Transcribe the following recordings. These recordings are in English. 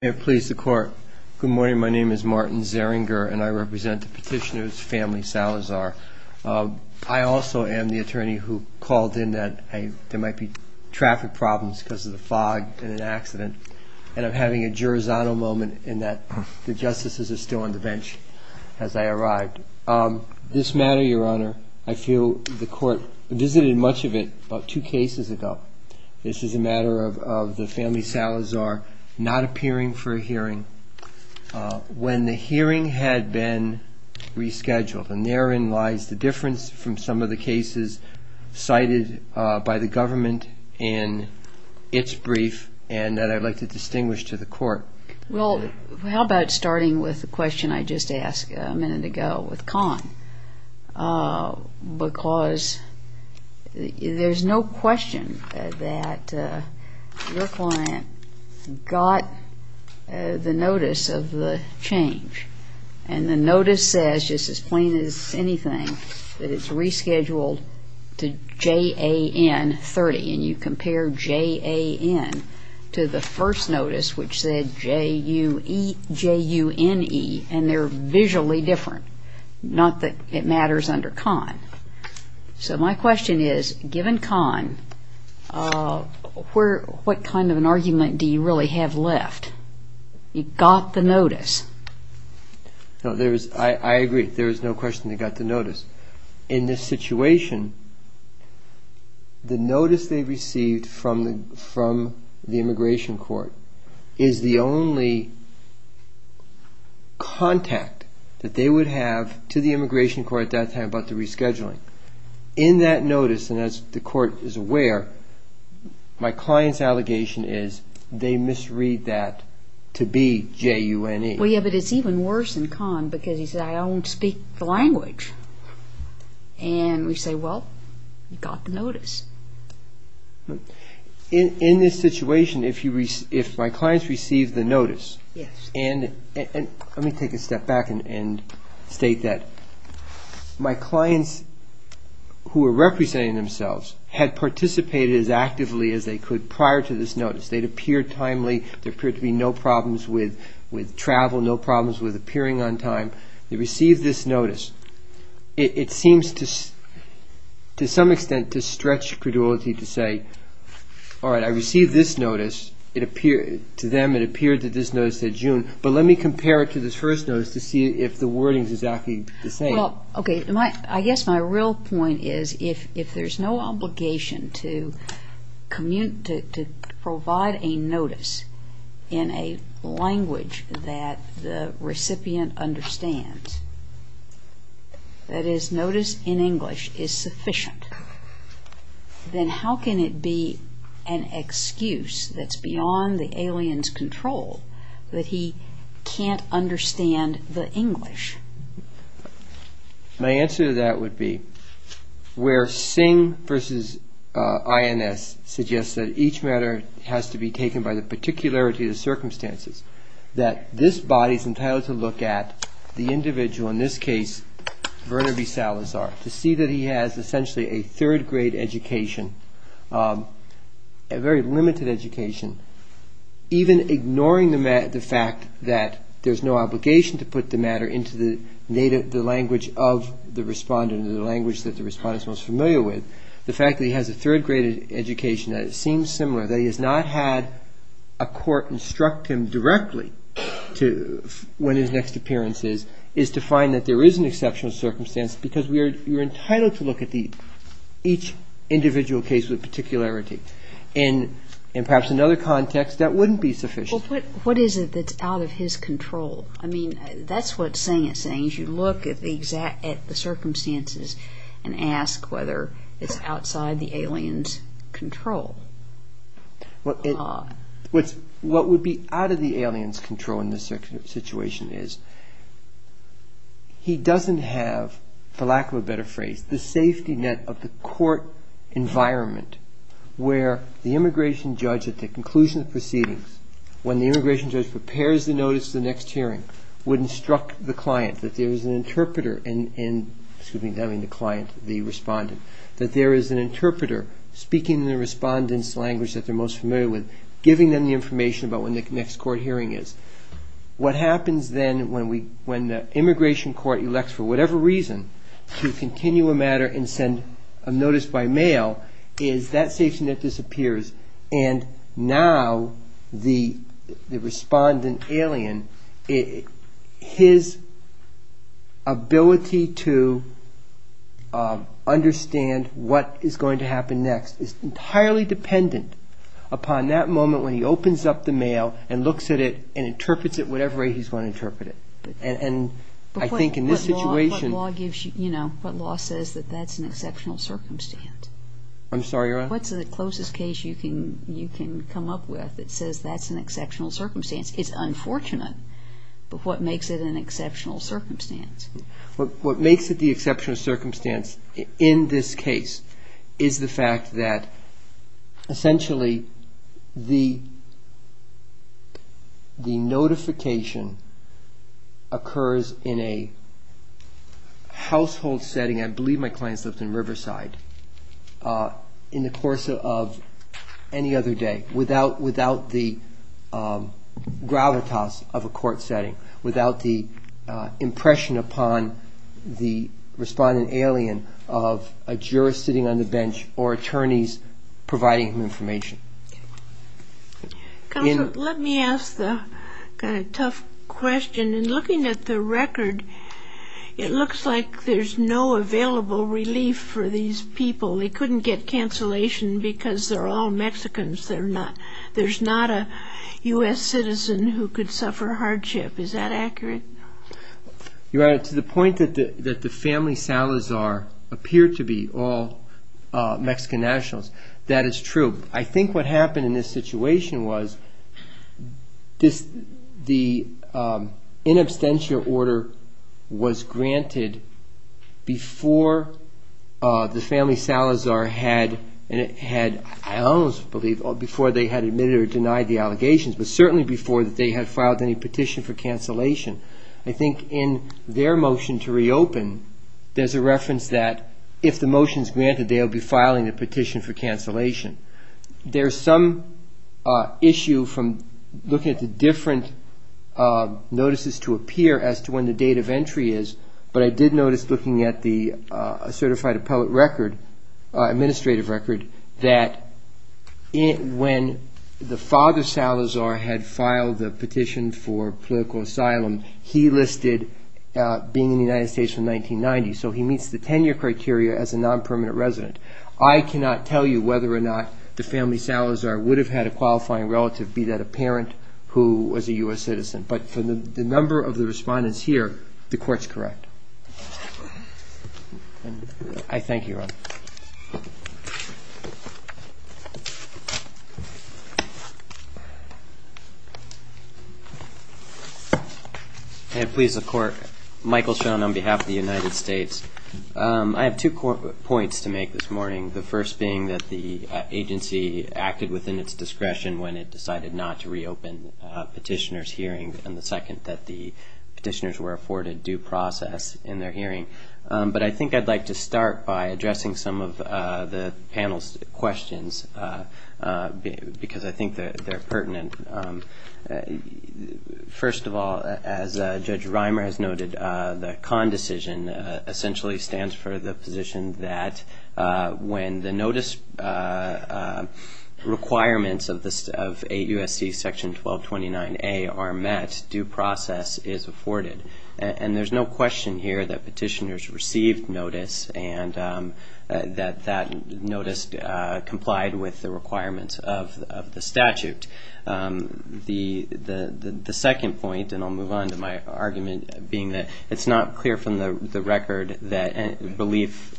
Good morning. My name is Martin Zeringer and I represent the petitioner's family, Salazar. I also am the attorney who called in that there might be traffic problems because of the fog in an accident. And I'm having a Girozzano moment in that the justices are still on the bench as I arrived. This matter, Your Honor, I feel the court visited much of it about two cases ago. This is a matter of the family Salazar not appearing for a hearing when the hearing had been rescheduled. And therein lies the difference from some of the cases cited by the government in its brief and that I'd like to distinguish to the court. Well, how about starting with the question I just asked a minute ago with Conn? Because there's no question that your client got the notice of the change. And the notice says, just as plain as anything, that it's rescheduled to JAN 30. And you compare JAN to the first notice, which said JUNE, and they're visually different. Not that it matters under Conn. So my question is, given Conn, what kind of an argument do you really have left? You got the notice. I agree. There is no question they got the notice. In this situation, the notice they received from the immigration court is the only contact that they would have to the immigration court at that time about the rescheduling. In that notice, and as the court is aware, my client's allegation is they misread that to be JUNE. Well, yeah, but it's even worse than Conn, because he said, I don't speak the language. And we say, well, you got the notice. In this situation, if my clients received the notice, and let me take a step back and state that. My clients, who are representing themselves, had participated as actively as they could prior to this notice. They'd appeared timely. There appeared to be no problems with travel, no problems with appearing on time. They received this notice. It seems to some extent to stretch credulity to say, all right, I received this notice. To them, it appeared that this notice said JUNE. But let me compare it to this first notice to see if the wording is exactly the same. I guess my real point is, if there's no obligation to provide a notice in a language that the recipient understands, that is, notice in English is sufficient, then how can it be an excuse that's beyond the alien's control that he can't understand the English? My answer to that would be, where Singh versus INS suggests that each matter has to be taken by the particularity of the circumstances, that this body is entitled to look at the individual, in this case, Werner B. Salazar, to see that he has essentially a third-grade education, a very limited education, even ignoring the fact that there's no obligation to put the matter into the language of the respondent or the language that the respondent is most familiar with, the fact that he has a third-grade education, that it seems similar, that he has not had a court instruct him directly when his next appearance is, is to find that there is an exceptional circumstance because you're entitled to look at each individual case with particularity. And perhaps in another context, that wouldn't be sufficient. What is it that's out of his control? I mean, that's what Singh is saying. He means you look at the circumstances and ask whether it's outside the alien's control. What would be out of the alien's control in this situation is he doesn't have, for lack of a better phrase, the safety net of the court environment where the immigration judge, at the conclusion of proceedings, when the immigration judge prepares the notice for the next hearing, would instruct the client that there is an interpreter, excuse me, telling the client, the respondent, that there is an interpreter speaking the respondent's language that they're most familiar with, giving them the information about when the next court hearing is. What happens then when the immigration court elects, for whatever reason, to continue a matter and send a notice by mail is that safety net disappears and now the respondent alien, his ability to understand what is going to happen next, is entirely dependent upon that moment when he opens up the mail and looks at it and interprets it whatever way he's going to interpret it. And I think in this situation... But what law gives you, you know, what law says that that's an exceptional circumstance? I'm sorry, Your Honor? What's the closest case you can come up with that says that's an exceptional circumstance? It's unfortunate, but what makes it an exceptional circumstance? What makes it the exceptional circumstance in this case is the fact that, essentially, the notification occurs in a household setting. I believe my client lives in Riverside. In the course of any other day, without the gravitas of a court setting, without the impression upon the respondent alien of a juror sitting on the bench or attorneys providing him information. Counsel, let me ask the kind of tough question. In looking at the record, it looks like there's no available relief for these people. They couldn't get cancellation because they're all Mexicans. There's not a U.S. citizen who could suffer hardship. Is that accurate? Your Honor, to the point that the family Salazar appear to be all Mexican nationals, that is true. I think what happened in this situation was the in absentia order was granted before the family Salazar had, I almost believe, before they had admitted or denied the allegations, but certainly before they had filed any petition for cancellation. I think in their motion to reopen, there's a reference that if the motion is granted, they'll be filing a petition for cancellation. There's some issue from looking at the different notices to appear as to when the date of entry is, but I did notice looking at the certified appellate record, administrative record, that when the father Salazar had filed the petition for political asylum, he listed being in the United States from 1990. So he meets the 10-year criteria as a non-permanent resident. I cannot tell you whether or not the family Salazar would have had a qualifying relative, be that a parent who was a U.S. citizen, but for the number of the respondents here, the court's correct. I thank you, Your Honor. Thank you. And please, the court. Michael Schoen on behalf of the United States. I have two points to make this morning, the first being that the agency acted within its discretion when it decided not to reopen petitioners' hearings, and the second that the petitioners were afforded due process in their hearing. But I think I'd like to start by addressing some of the panel's questions because I think they're pertinent. First of all, as Judge Reimer has noted, the CON decision essentially stands for the position that when the notice requirements of 8 U.S.C. Section 1229A are met, due process is afforded. And there's no question here that petitioners received notice and that that notice complied with the requirements of the statute. The second point, and I'll move on to my argument, being that it's not clear from the record that belief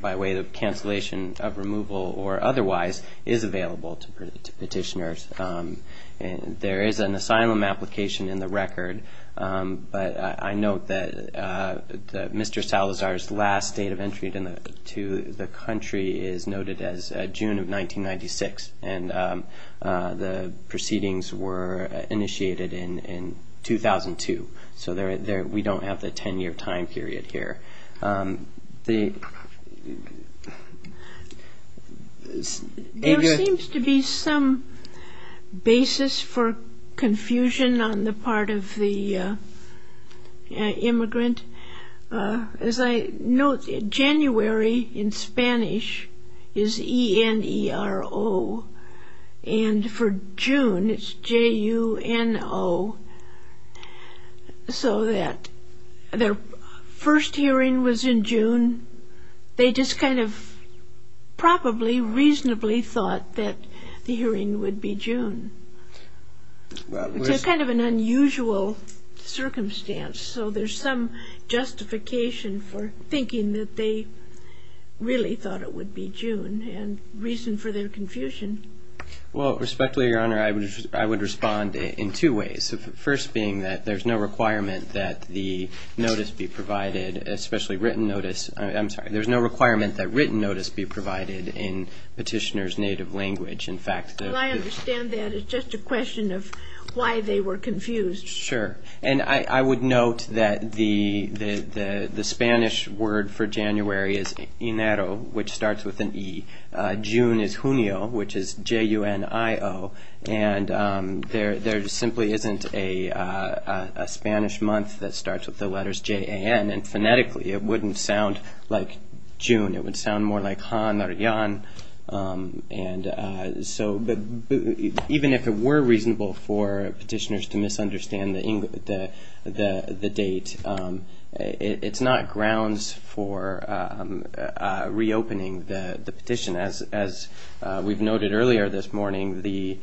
by way of cancellation of removal or otherwise is available to petitioners. There is an asylum application in the record, but I note that Mr. Salazar's last date of entry to the country is noted as June of 1996, and the proceedings were initiated in 2002. So we don't have the 10-year time period here. There seems to be some basis for confusion on the part of the immigrant. As I note, January in Spanish is E-N-E-R-O, and for June it's J-U-N-O. So that their first hearing was in June. They just kind of probably reasonably thought that the hearing would be June. It's kind of an unusual circumstance, so there's some justification for thinking that they really thought it would be June, and reason for their confusion. Well, respectfully, Your Honor, I would respond in two ways, the first being that there's no requirement that the notice be provided, especially written notice. I'm sorry. There's no requirement that written notice be provided in petitioner's native language. In fact, the ---- Well, I understand that. It's just a question of why they were confused. Sure, and I would note that the Spanish word for January is E-N-E-R-O, which starts with an E. June is Junio, which is J-U-N-I-O, and there simply isn't a Spanish month that starts with the letters J-A-N, and phonetically it wouldn't sound like June. It would sound more like Han or Yan. And so even if it were reasonable for petitioners to misunderstand the date, it's not grounds for reopening the petition. As we've noted earlier this morning, the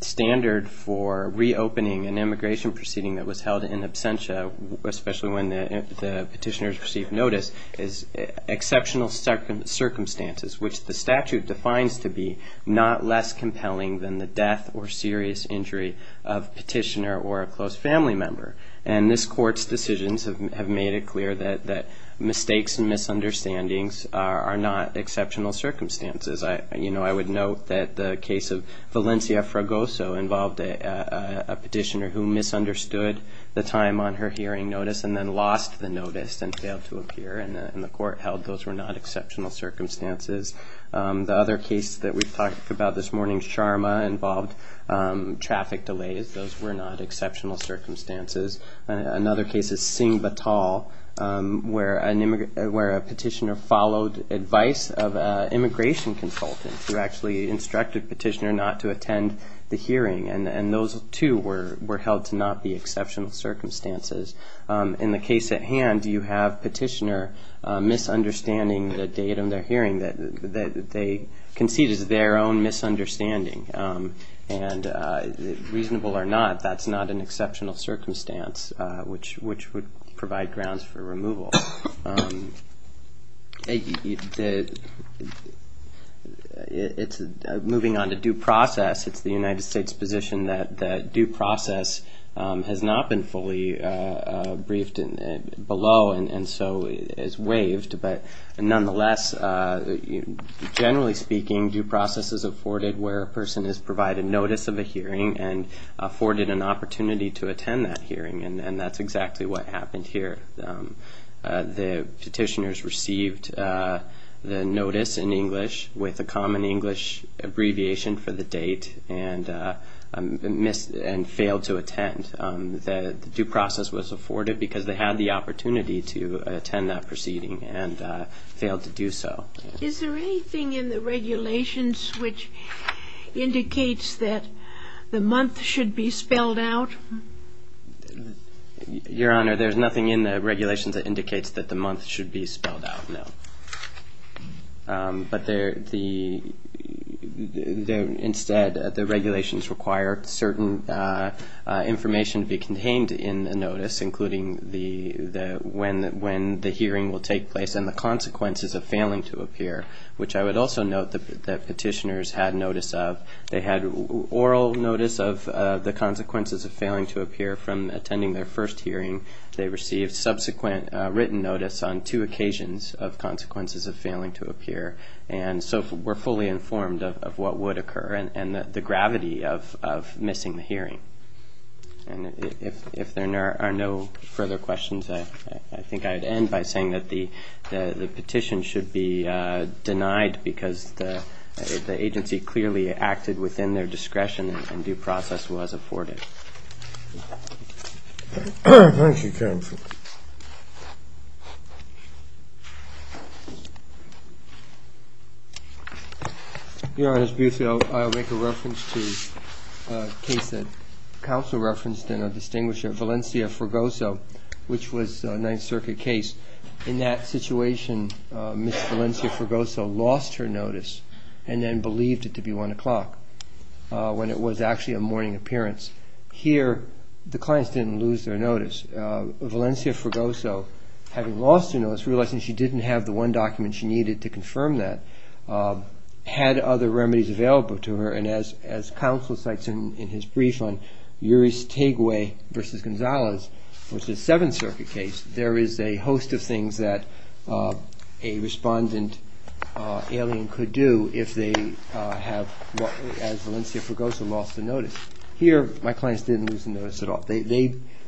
standard for reopening an immigration proceeding that was held in absentia, especially when the petitioners received notice, is exceptional circumstances, which the statute defines to be not less compelling than the death or serious injury of petitioner or a close family member. And this Court's decisions have made it clear that mistakes and misunderstandings are not exceptional circumstances. You know, I would note that the case of Valencia Fragoso involved a petitioner who misunderstood the time on her hearing notice and then lost the notice and failed to appear in the court held. Those were not exceptional circumstances. The other case that we've talked about this morning, Sharma, involved traffic delays. Those were not exceptional circumstances. Another case is Singh Vatal, where a petitioner followed advice of an immigration consultant who actually instructed the petitioner not to attend the hearing, and those, too, were held to not be exceptional circumstances. In the case at hand, you have a petitioner misunderstanding the date of their hearing. They concede it's their own misunderstanding, and reasonable or not, that's not an exceptional circumstance, which would provide grounds for removal. Moving on to due process, it's the United States' position that due process has not been fully briefed below and so is waived, but nonetheless, generally speaking, due process is afforded where a person is provided notice of a hearing and afforded an opportunity to attend that hearing, and that's exactly what happened here. The petitioners received the notice in English with a common English abbreviation for the date and failed to attend. The due process was afforded because they had the opportunity to attend that proceeding and failed to do so. Is there anything in the regulations which indicates that the month should be spelled out? Your Honor, there's nothing in the regulations that indicates that the month should be spelled out, no. But instead, the regulations require certain information to be contained in the notice, including when the hearing will take place and the consequences of failing to appear, which I would also note that petitioners had notice of. They had oral notice of the consequences of failing to appear from attending their first hearing. They received subsequent written notice on two occasions of consequences of failing to appear, and so were fully informed of what would occur and the gravity of missing the hearing. And if there are no further questions, I think I'd end by saying that the petition should be denied because the agency clearly acted within their discretion and due process was afforded. Thank you, counsel. Your Honor, I'll make a reference to a case that counsel referenced in our distinguisher, Valencia Forgoso, which was a Ninth Circuit case. In that situation, Ms. Valencia Forgoso lost her notice and then believed it to be 1 o'clock when it was actually a morning appearance. Valencia Forgoso, having lost her notice, realizing she didn't have the one document she needed to confirm that, had other remedies available to her, and as counsel cites in his brief on Yuri Stegway v. Gonzalez, which is a Seventh Circuit case, there is a host of things that a respondent alien could do if they have, as Valencia Forgoso, lost their notice. Here, my clients didn't lose their notice at all.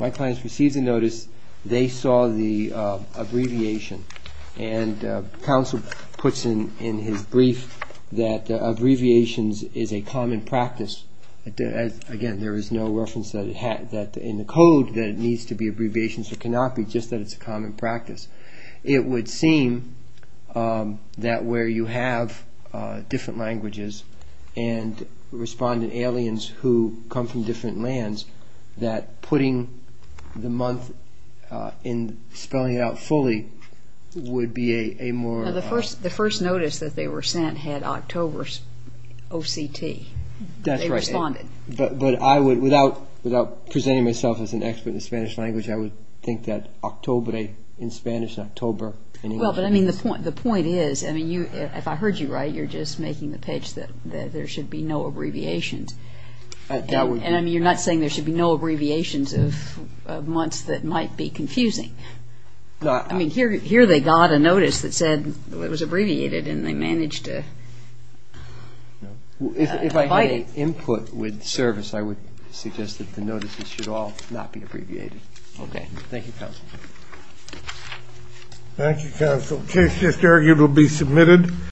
My clients received the notice. They saw the abbreviation, and counsel puts in his brief that abbreviations is a common practice. Again, there is no reference in the code that it needs to be abbreviations. It cannot be just that it's a common practice. It would seem that where you have different languages and respondent aliens who come from different lands, that putting the month and spelling it out fully would be a more... Now, the first notice that they were sent had October's OCT. That's right. They responded. But I would, without presenting myself as an expert in Spanish language, I would think that October in Spanish, October in English... Well, but I mean, the point is, I mean, if I heard you right, you're just making the pitch that there should be no abbreviations. And I mean, you're not saying there should be no abbreviations of months that might be confusing. I mean, here they got a notice that said it was abbreviated, and they managed to fight it. If I had input with service, I would suggest that the notices should all not be abbreviated. Okay. Thank you, counsel. Thank you, counsel. Case just argued will be submitted.